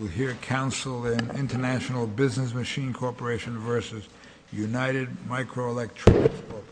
We'll hear counsel in International Business Machine Corporation versus United Microelectronics Corporation.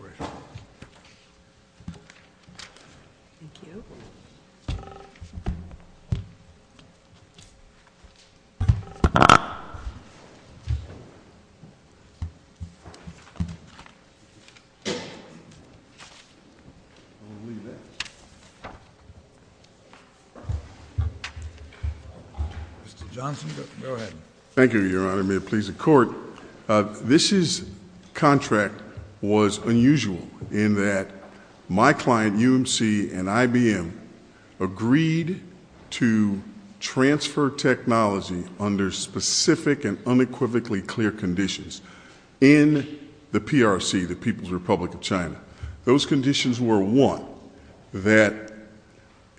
Mr. Johnson, go ahead. Thank you, Your Honor. May it please the Court. This contract was unusual in that my client, UMC and IBM, agreed to transfer technology under specific and unequivocally clear conditions in the PRC, the People's Republic of China. Those conditions were, one, that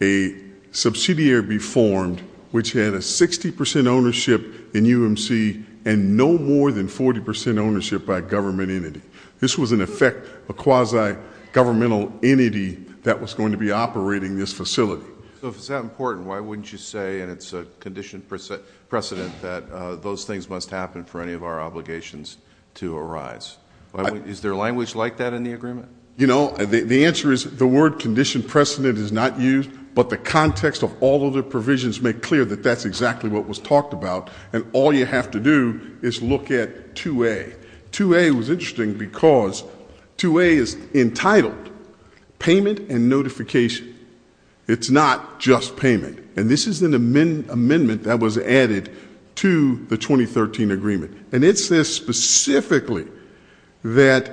a subsidiary be formed which had a 60% ownership in UMC and no more than 40% ownership by a government entity. This was, in effect, a quasi-governmental entity that was going to be operating this facility. So if it's that important, why wouldn't you say, and it's a conditioned precedent, that those things must happen for any of our obligations to arise? Is there language like that in the agreement? You know, the answer is the word conditioned precedent is not used, but the context of all of the provisions make clear that that's exactly what was talked about. And all you have to do is look at 2A. 2A was interesting because 2A is entitled payment and notification. It's not just payment. And this is an amendment that was added to the 2013 agreement. And it says specifically that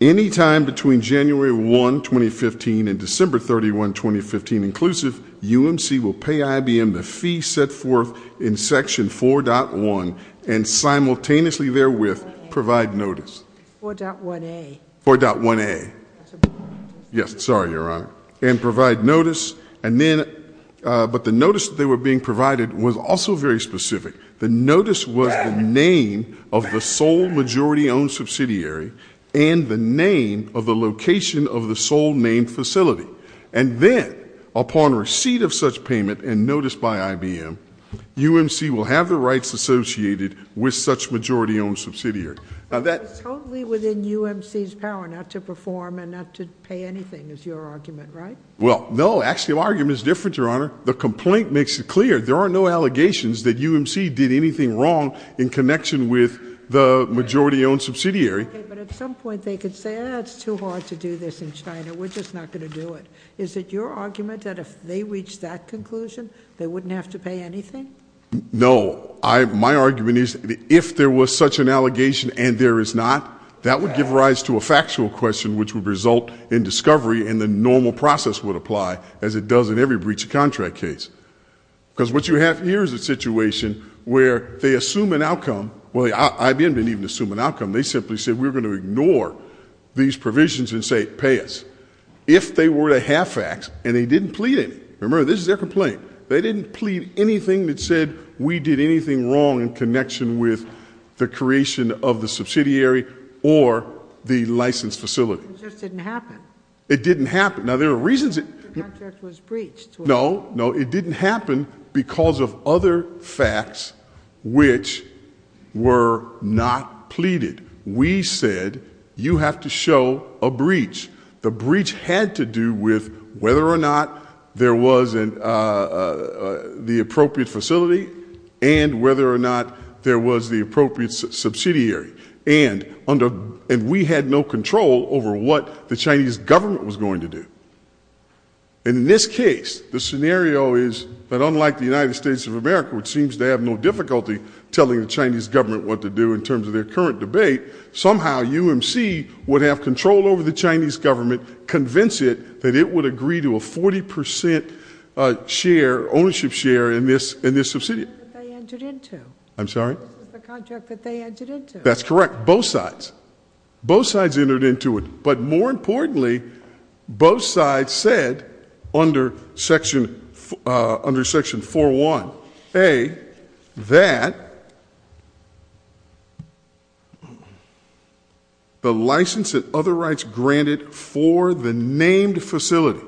any time between January 1, 2015, and December 31, 2015, inclusive, UMC will pay IBM the fee set forth in Section 4.1 and simultaneously therewith provide notice. 4.1A. 4.1A. Yes, sorry, Your Honor. And provide notice. But the notice that they were being provided was also very specific. The notice was the name of the sole majority-owned subsidiary and the name of the location of the sole named facility. And then, upon receipt of such payment and notice by IBM, UMC will have the rights associated with such majority-owned subsidiary. Totally within UMC's power not to perform and not to pay anything is your argument, right? Well, no. The complaint makes it clear. There are no allegations that UMC did anything wrong in connection with the majority-owned subsidiary. But at some point they could say, oh, that's too hard to do this in China. We're just not going to do it. Is it your argument that if they reach that conclusion, they wouldn't have to pay anything? No. My argument is if there was such an allegation and there is not, that would give rise to a factual question which would result in discovery and the normal process would apply as it does in every breach of contract case. Because what you have here is a situation where they assume an outcome. Well, IBM didn't even assume an outcome. They simply said we're going to ignore these provisions and say pay us. If they were to have facts and they didn't plead any, remember this is their complaint, they didn't plead anything that said we did anything wrong in connection with the creation of the subsidiary or the licensed facility. It just didn't happen. It didn't happen. Now, there are reasons. The contract was breached. No, no, it didn't happen because of other facts which were not pleaded. We said you have to show a breach. The breach had to do with whether or not there was the appropriate facility and whether or not there was the appropriate subsidiary. And we had no control over what the Chinese government was going to do. And in this case, the scenario is that unlike the United States of America, which seems to have no difficulty telling the Chinese government what to do in terms of their current debate, somehow UMC would have control over the Chinese government, convince it that it would agree to a 40% ownership share in this subsidiary. This is the contract that they entered into. I'm sorry? This is the contract that they entered into. That's correct. Both sides. Both sides entered into it. But more importantly, both sides said under Section 401A that the license and other rights granted for the named facility.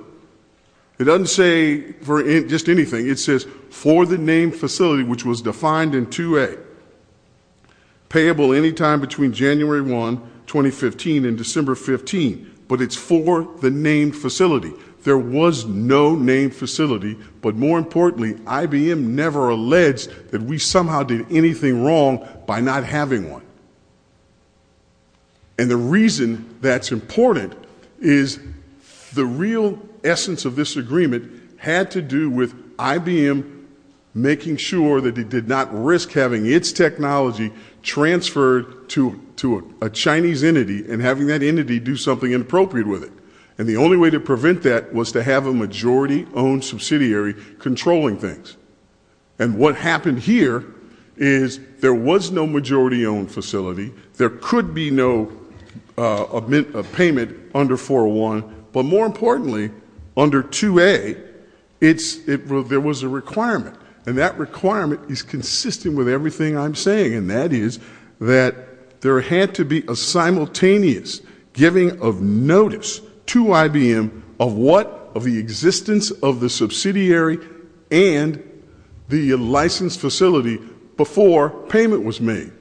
It doesn't say just anything. It says for the named facility, which was defined in 2A, payable any time between January 1, 2015 and December 15. But it's for the named facility. There was no named facility. But more importantly, IBM never alleged that we somehow did anything wrong by not having one. And the reason that's important is the real essence of this agreement had to do with IBM making sure that it did not risk having its technology transferred to a Chinese entity and having that entity do something inappropriate with it. And the only way to prevent that was to have a majority-owned subsidiary controlling things. And what happened here is there was no majority-owned facility. There could be no payment under 401. But more importantly, under 2A, there was a requirement. And that requirement is consistent with everything I'm saying. And that is that there had to be a simultaneous giving of notice to IBM of what? Of the existence of the subsidiary and the licensed facility before payment was made.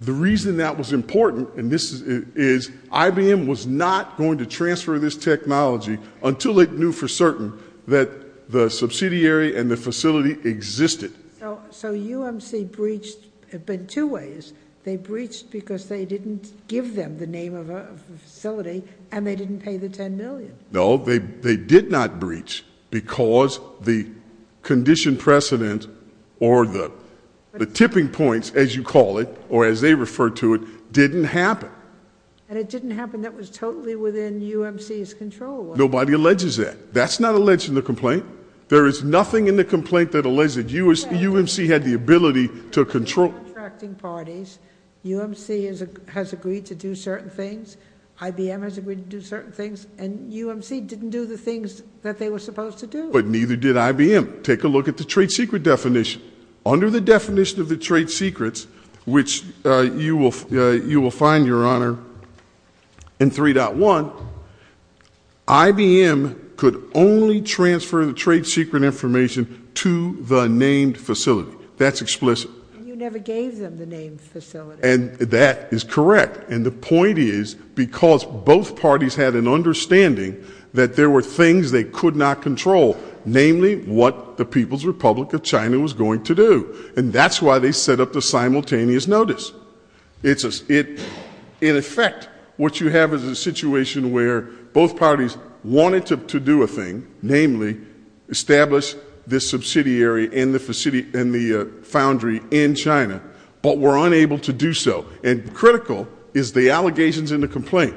The reason that was important is IBM was not going to transfer this technology until it knew for certain that the subsidiary and the facility existed. So UMC breached in two ways. They breached because they didn't give them the name of a facility and they didn't pay the $10 million. No, they did not breach because the condition precedent or the tipping points, as you call it, or as they refer to it, didn't happen. And it didn't happen. That was totally within UMC's control. Nobody alleges that. That's not alleged in the complaint. There is nothing in the complaint that alleges that UMC had the ability to control- Contracting parties. UMC has agreed to do certain things. IBM has agreed to do certain things. And UMC didn't do the things that they were supposed to do. But neither did IBM. Take a look at the trade secret definition. Under the definition of the trade secrets, which you will find, Your Honor, in 3.1, IBM could only transfer the trade secret information to the named facility. That's explicit. And you never gave them the name facility. And that is correct. And the point is because both parties had an understanding that there were things they could not control, namely what the People's Republic of China was going to do. And that's why they set up the simultaneous notice. In effect, what you have is a situation where both parties wanted to do a thing, namely establish this subsidiary and the foundry in China, but were unable to do so. And critical is the allegations in the complaint.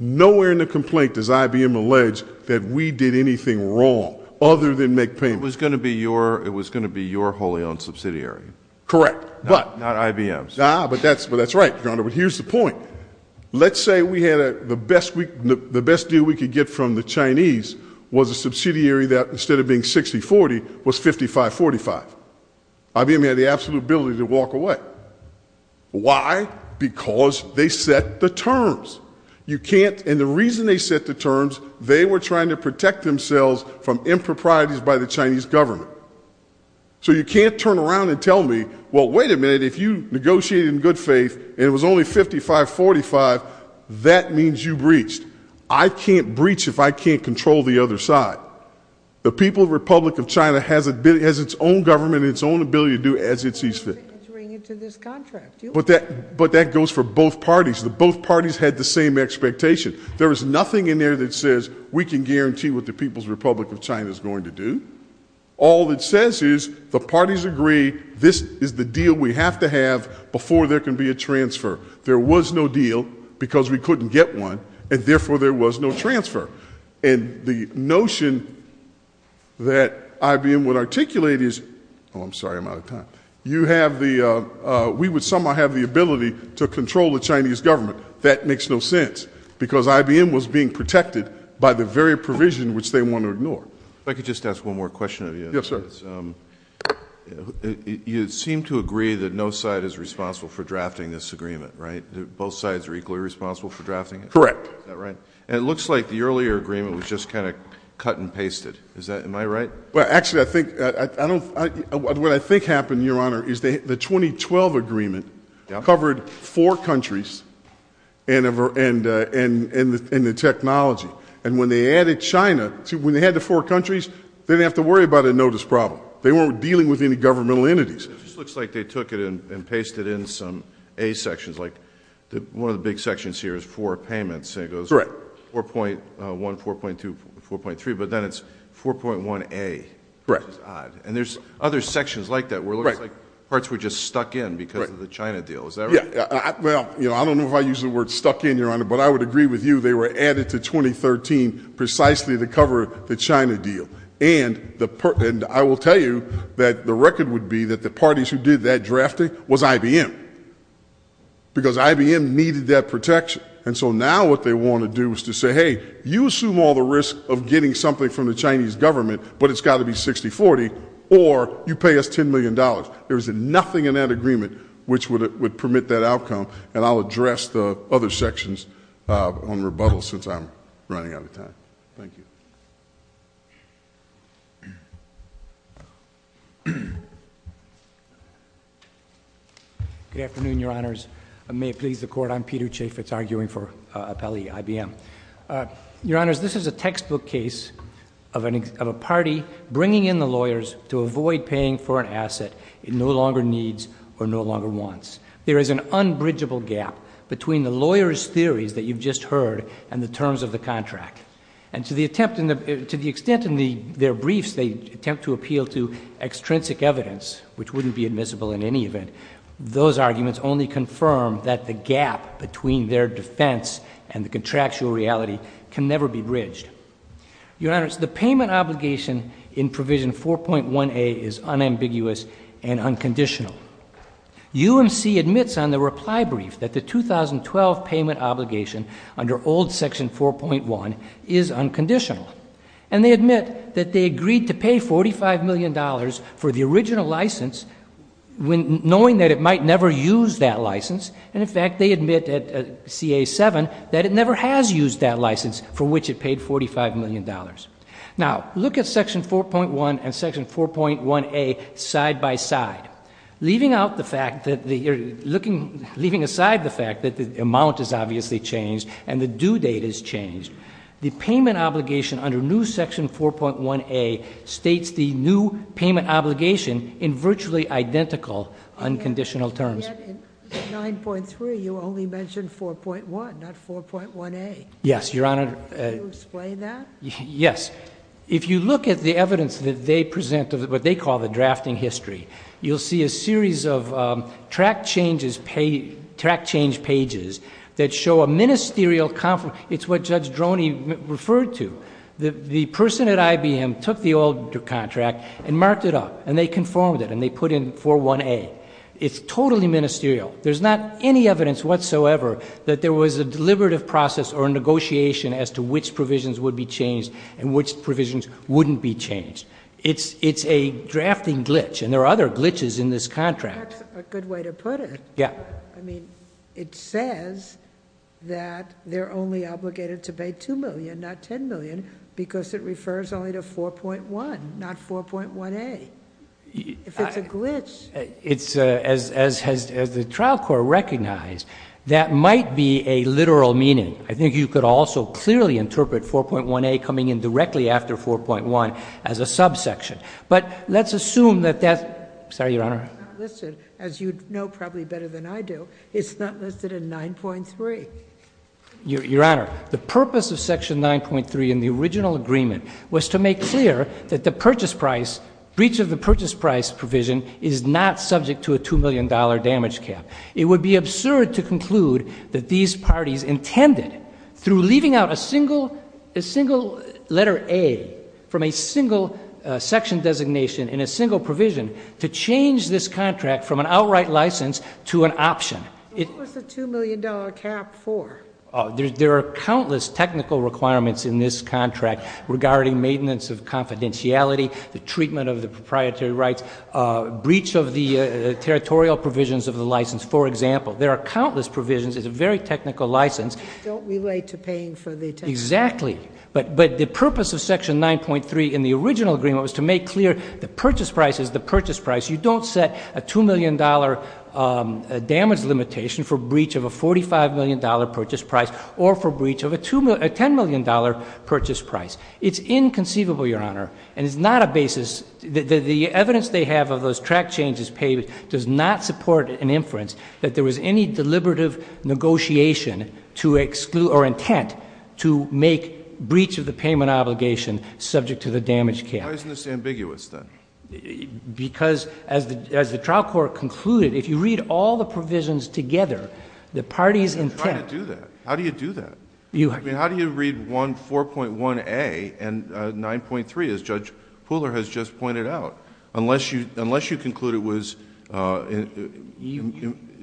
Nowhere in the complaint does IBM allege that we did anything wrong other than make payments. It was going to be your wholly owned subsidiary. Correct. But- Not IBM's. Ah, but that's right, Your Honor. But here's the point. Let's say the best deal we could get from the Chinese was a subsidiary that, instead of being 60-40, was 55-45. IBM had the absolute ability to walk away. Why? Because they set the terms. And the reason they set the terms, they were trying to protect themselves from improprieties by the Chinese government. So you can't turn around and tell me, well, wait a minute, if you negotiated in good faith and it was only 55-45, that means you breached. I can't breach if I can't control the other side. The People's Republic of China has its own government and its own ability to do as it sees fit. But that goes for both parties. Both parties had the same expectation. There is nothing in there that says we can guarantee what the People's Republic of China is going to do. All it says is the parties agree this is the deal we have to have before there can be a transfer. There was no deal because we couldn't get one, and therefore there was no transfer. And the notion that IBM would articulate is, oh, I'm sorry, I'm out of time. You have the, we would somehow have the ability to control the Chinese government. That makes no sense because IBM was being protected by the very provision which they want to ignore. If I could just ask one more question of you. Yes, sir. You seem to agree that no side is responsible for drafting this agreement, right? Both sides are equally responsible for drafting it? Correct. Is that right? And it looks like the earlier agreement was just kind of cut and pasted. Is that, am I right? Well, actually, I think, I don't, what I think happened, Your Honor, is the 2012 agreement covered four countries and the technology. And when they added China, when they had the four countries, they didn't have to worry about a notice problem. They weren't dealing with any governmental entities. It just looks like they took it and pasted in some A sections, like one of the big sections here is for payments. It goes 4.1, 4.2, 4.3, but then it's 4.1A, which is odd. And there's other sections like that where it looks like parts were just stuck in because of the China deal. Is that right? Well, I don't know if I use the word stuck in, Your Honor, but I would agree with you. They were added to 2013 precisely to cover the China deal. And I will tell you that the record would be that the parties who did that drafting was IBM because IBM needed that protection. And so now what they want to do is to say, hey, you assume all the risk of getting something from the Chinese government, but it's got to be 60-40 or you pay us $10 million. There's nothing in that agreement which would permit that outcome. And I'll address the other sections on rebuttal since I'm running out of time. Thank you. Good afternoon, Your Honors. May it please the Court, I'm Peter Chaffetz, arguing for appellee IBM. Your Honors, this is a textbook case of a party bringing in the lawyers to avoid paying for an asset it no longer needs or no longer wants. There is an unbridgeable gap between the lawyers' theories that you've just heard and the terms of the contract. And to the extent in their briefs they attempt to appeal to extrinsic evidence, which wouldn't be admissible in any event, those arguments only confirm that the gap between their defense and the contractual reality can never be bridged. Your Honors, the payment obligation in Provision 4.1a is unambiguous and unconditional. UMC admits on the reply brief that the 2012 payment obligation under old Section 4.1 is unconditional. And they admit that they agreed to pay $45 million for the original license knowing that it might never use that license. And, in fact, they admit at CA-7 that it never has used that license for which it paid $45 million. Now, look at Section 4.1 and Section 4.1a side by side. Leaving aside the fact that the amount has obviously changed and the due date has changed, the payment obligation under new Section 4.1a states the new payment obligation in virtually identical unconditional terms. In 9.3, you only mentioned 4.1, not 4.1a. Yes, Your Honor. Can you explain that? Yes. If you look at the evidence that they present of what they call the drafting history, you'll see a series of track change pages that show a ministerial conference. It's what Judge Droney referred to. The person at IBM took the old contract and marked it up, and they conformed it, and they put in 4.1a. It's totally ministerial. There's not any evidence whatsoever that there was a deliberative process or a negotiation as to which provisions would be changed and which provisions wouldn't be changed. It's a drafting glitch, and there are other glitches in this contract. That's a good way to put it. Yeah. I mean, it says that they're only obligated to pay $2 million, not $10 million, because it refers only to 4.1, not 4.1a. If it's a glitch. It's, as the trial court recognized, that might be a literal meaning. I think you could also clearly interpret 4.1a coming in directly after 4.1 as a subsection. But let's assume that that's— Sorry, Your Honor. It's not listed. As you know probably better than I do, it's not listed in 9.3. Your Honor, the purpose of Section 9.3 in the original agreement was to make clear that the purchase price, breach of the purchase price provision, is not subject to a $2 million damage cap. It would be absurd to conclude that these parties intended, through leaving out a single letter A from a single section designation in a single provision, to change this contract from an outright license to an option. What was the $2 million cap for? There are countless technical requirements in this contract regarding maintenance of confidentiality, the treatment of the proprietary rights, breach of the territorial provisions of the license, for example. There are countless provisions. It's a very technical license. Don't relate to paying for the— Exactly. But the purpose of Section 9.3 in the original agreement was to make clear the purchase price is the purchase price. You don't set a $2 million damage limitation for breach of a $45 million purchase price or for breach of a $10 million purchase price. It's inconceivable, Your Honor, and it's not a basis—the evidence they have of those track changes paid does not support an inference that there was any deliberative negotiation or intent to make breach of the payment obligation subject to the damage cap. Why isn't this ambiguous, then? Because, as the trial court concluded, if you read all the provisions together, the parties' intent— I'm not trying to do that. How do you do that? I mean, how do you read 4.1a and 9.3, as Judge Pooler has just pointed out, unless you conclude it was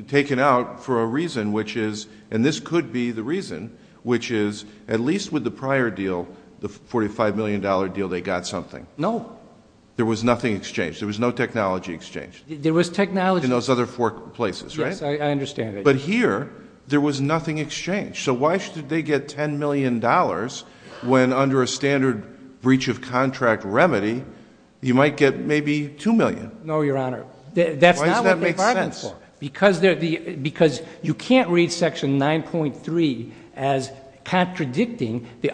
taken out for a reason, which is—and this could be the reason—which is at least with the prior deal, the $45 million deal, they got something. No. There was nothing exchanged. There was no technology exchanged. There was technology— In those other four places, right? Yes, I understand that. But here, there was nothing exchanged. So why should they get $10 million when, under a standard breach of contract remedy, you might get maybe $2 million? No, Your Honor. That's not what they bargained for. Why does that make sense? Because you can't read Section 9.3 as contradicting the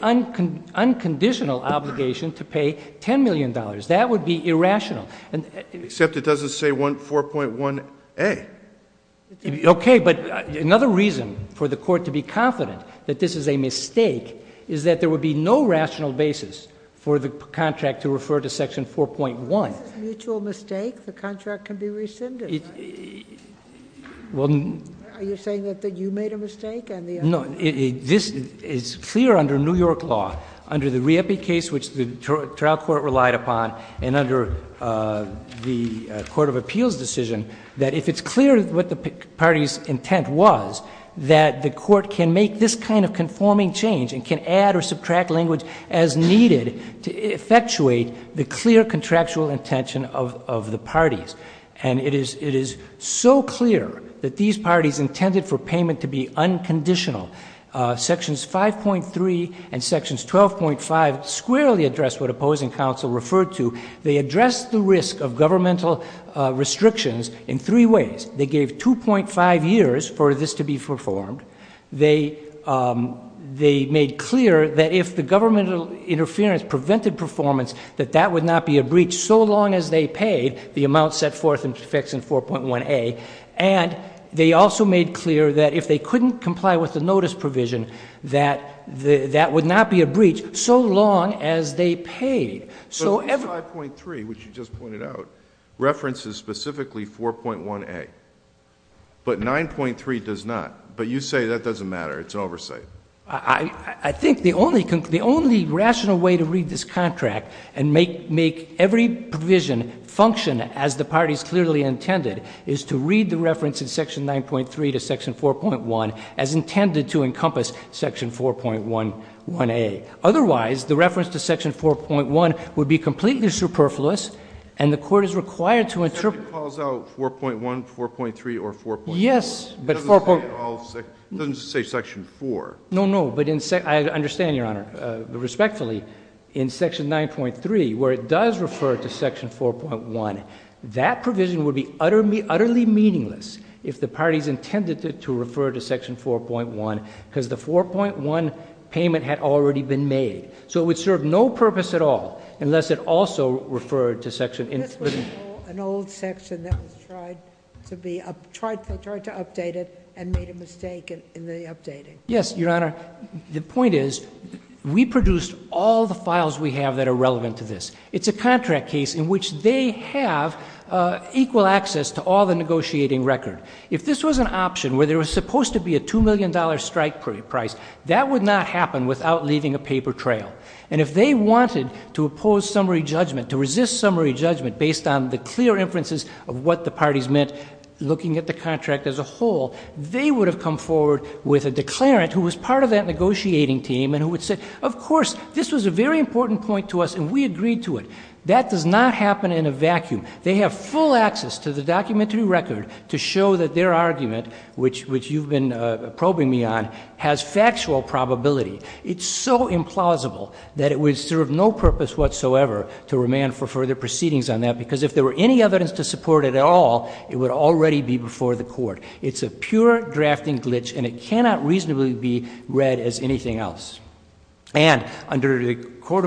unconditional obligation to pay $10 million. That would be irrational. Except it doesn't say 4.1a. Okay. But another reason for the Court to be confident that this is a mistake is that there would be no rational basis for the contract to refer to Section 4.1. If it's a mutual mistake, the contract can be rescinded, right? Well— Are you saying that you made a mistake? No. This is clear under New York law, under the Riepe case, which the trial court relied upon, and under the court of appeals decision, that if it's clear what the party's intent was, that the court can make this kind of conforming change and can add or subtract language as needed to effectuate the clear contractual intention of the parties. And it is so clear that these parties intended for payment to be unconditional. Sections 5.3 and Sections 12.5 squarely address what opposing counsel referred to. They addressed the risk of governmental restrictions in three ways. They gave 2.5 years for this to be performed. They made clear that if the governmental interference prevented performance, that that would not be a breach so long as they paid the amount set forth in Section 4.1a. And they also made clear that if they couldn't comply with the notice provision, that that would not be a breach so long as they paid. But Section 5.3, which you just pointed out, references specifically 4.1a. But 9.3 does not. But you say that doesn't matter. It's an oversight. I think the only rational way to read this contract and make every provision function as the party's clearly intended is to read the reference in Section 9.3 to Section 4.1 as intended to encompass Section 4.1a. Otherwise, the reference to Section 4.1 would be completely superfluous, and the court is required to interpret. It calls out 4.1, 4.3, or 4.4. Yes. It doesn't say Section 4. No, no. But I understand, Your Honor, respectfully, in Section 9.3, where it does refer to Section 4.1, that provision would be utterly meaningless if the parties intended it to refer to Section 4.1, because the 4.1 payment had already been made. So it would serve no purpose at all unless it also referred to Section 4.1. This was an old section that was tried to update it and made a mistake in the updating. Yes, Your Honor. The point is we produced all the files we have that are relevant to this. It's a contract case in which they have equal access to all the negotiating record. If this was an option where there was supposed to be a $2 million strike price, that would not happen without leaving a paper trail. And if they wanted to oppose summary judgment, to resist summary judgment, based on the clear inferences of what the parties meant looking at the contract as a whole, they would have come forward with a declarant who was part of that negotiating team and who would say, of course, this was a very important point to us and we agreed to it. That does not happen in a vacuum. They have full access to the documentary record to show that their argument, which you've been probing me on, has factual probability. It's so implausible that it would serve no purpose whatsoever to remand for further proceedings on that because if there were any evidence to support it at all, it would already be before the court. It's a pure drafting glitch and it cannot reasonably be read as anything else. And under the New York Court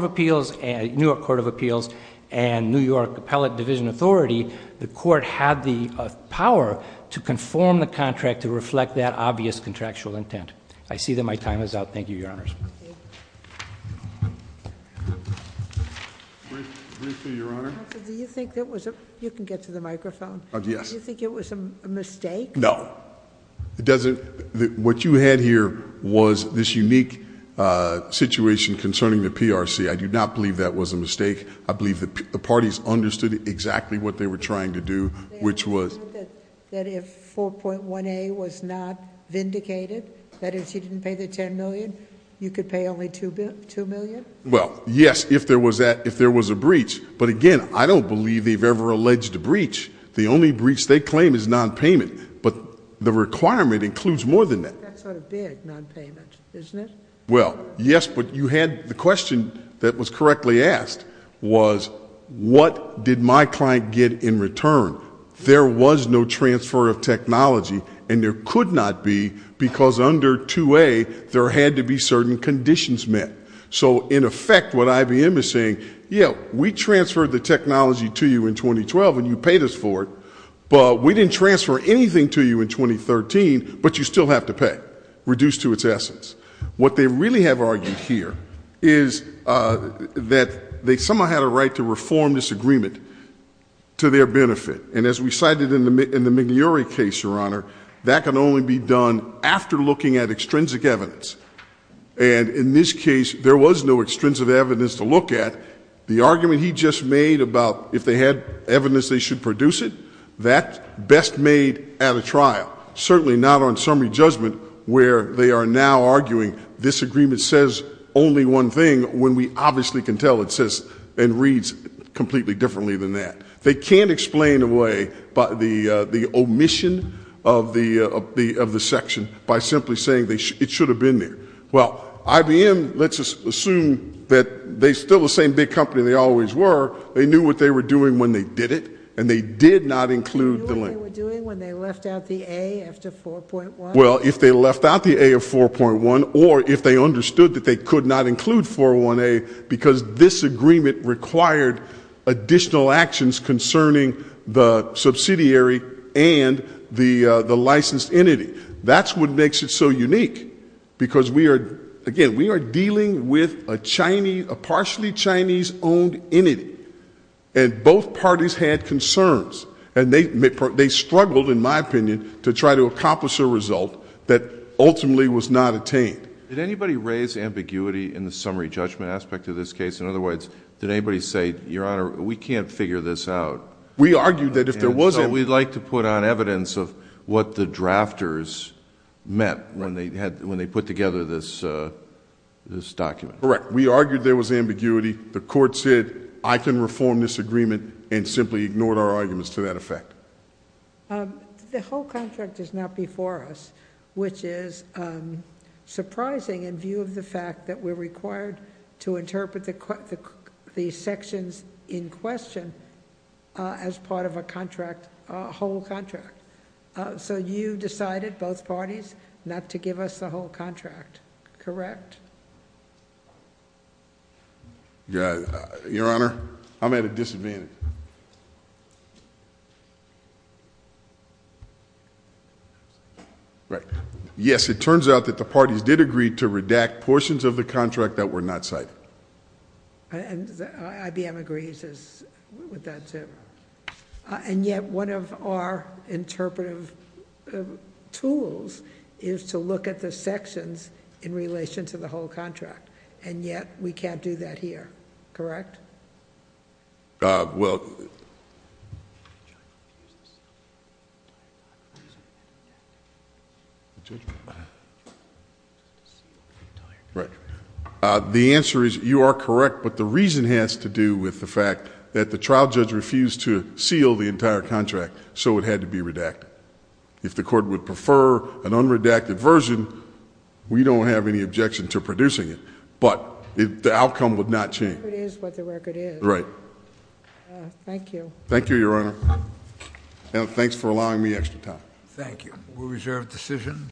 of Appeals and New York Appellate Division Authority, the court had the power to conform the contract to reflect that obvious contractual intent. I see that my time is out. Thank you, Your Honors. Briefly, Your Honor. You can get to the microphone. Yes. Do you think it was a mistake? No. What you had here was this unique situation concerning the PRC. I do not believe that was a mistake. I believe the parties understood exactly what they were trying to do, which was- That if 4.1A was not vindicated, that is, you didn't pay the $10 million, you could pay only $2 million? Well, yes, if there was a breach. But again, I don't believe they've ever alleged a breach. The only breach they claim is nonpayment, but the requirement includes more than that. That's not a big nonpayment, isn't it? Well, yes, but you had the question that was correctly asked, was what did my client get in return? There was no transfer of technology, and there could not be because under 2A, there had to be certain conditions met. So, in effect, what IBM is saying, yeah, we transferred the technology to you in 2012 and you paid us for it, but we didn't transfer anything to you in 2013, but you still have to pay, reduced to its essence. What they really have argued here is that they somehow had a right to reform this agreement to their benefit. And as we cited in the McNary case, Your Honor, that can only be done after looking at extrinsic evidence. And in this case, there was no extrinsic evidence to look at. The argument he just made about if they had evidence they should produce it, that best made at a trial, certainly not on summary judgment where they are now arguing this agreement says only one thing when we obviously can tell it says and reads completely differently than that. They can't explain away the omission of the section by simply saying it should have been there. Well, IBM, let's assume that they're still the same big company they always were. They knew what they were doing when they did it, and they did not include the link. What were they doing when they left out the A after 4.1? Well, if they left out the A of 4.1 or if they understood that they could not include 401A because this agreement required additional actions concerning the subsidiary and the licensed entity. That's what makes it so unique because, again, we are dealing with a partially Chinese-owned entity, and both parties had concerns, and they struggled, in my opinion, to try to accomplish a result that ultimately was not attained. Did anybody raise ambiguity in the summary judgment aspect of this case? In other words, did anybody say, Your Honor, we can't figure this out? We argued that if there was any. And so we'd like to put on evidence of what the drafters meant when they put together this document. Correct. We argued there was ambiguity. The court said, I can reform this agreement, and simply ignored our arguments to that effect. The whole contract is not before us, which is surprising in view of the fact that we're required to interpret the sections in question as part of a contract, a whole contract. So you decided, both parties, not to give us the whole contract. Correct. Your Honor, I'm at a disadvantage. Yes, it turns out that the parties did agree to redact portions of the contract that were not cited. IBM agrees with that, too. And yet, one of our interpretive tools is to look at the sections in relation to the whole contract. And yet, we can't do that here. Correct? Well, the answer is, you are correct. But the reason has to do with the fact that the trial judge refused to seal the entire contract. So it had to be redacted. If the court would prefer an unredacted version, we don't have any objection to producing it. But the outcome would not change. It is what the record is. Right. Thank you. Thank you, Your Honor. And thanks for allowing me extra time. Thank you. We reserve the decision.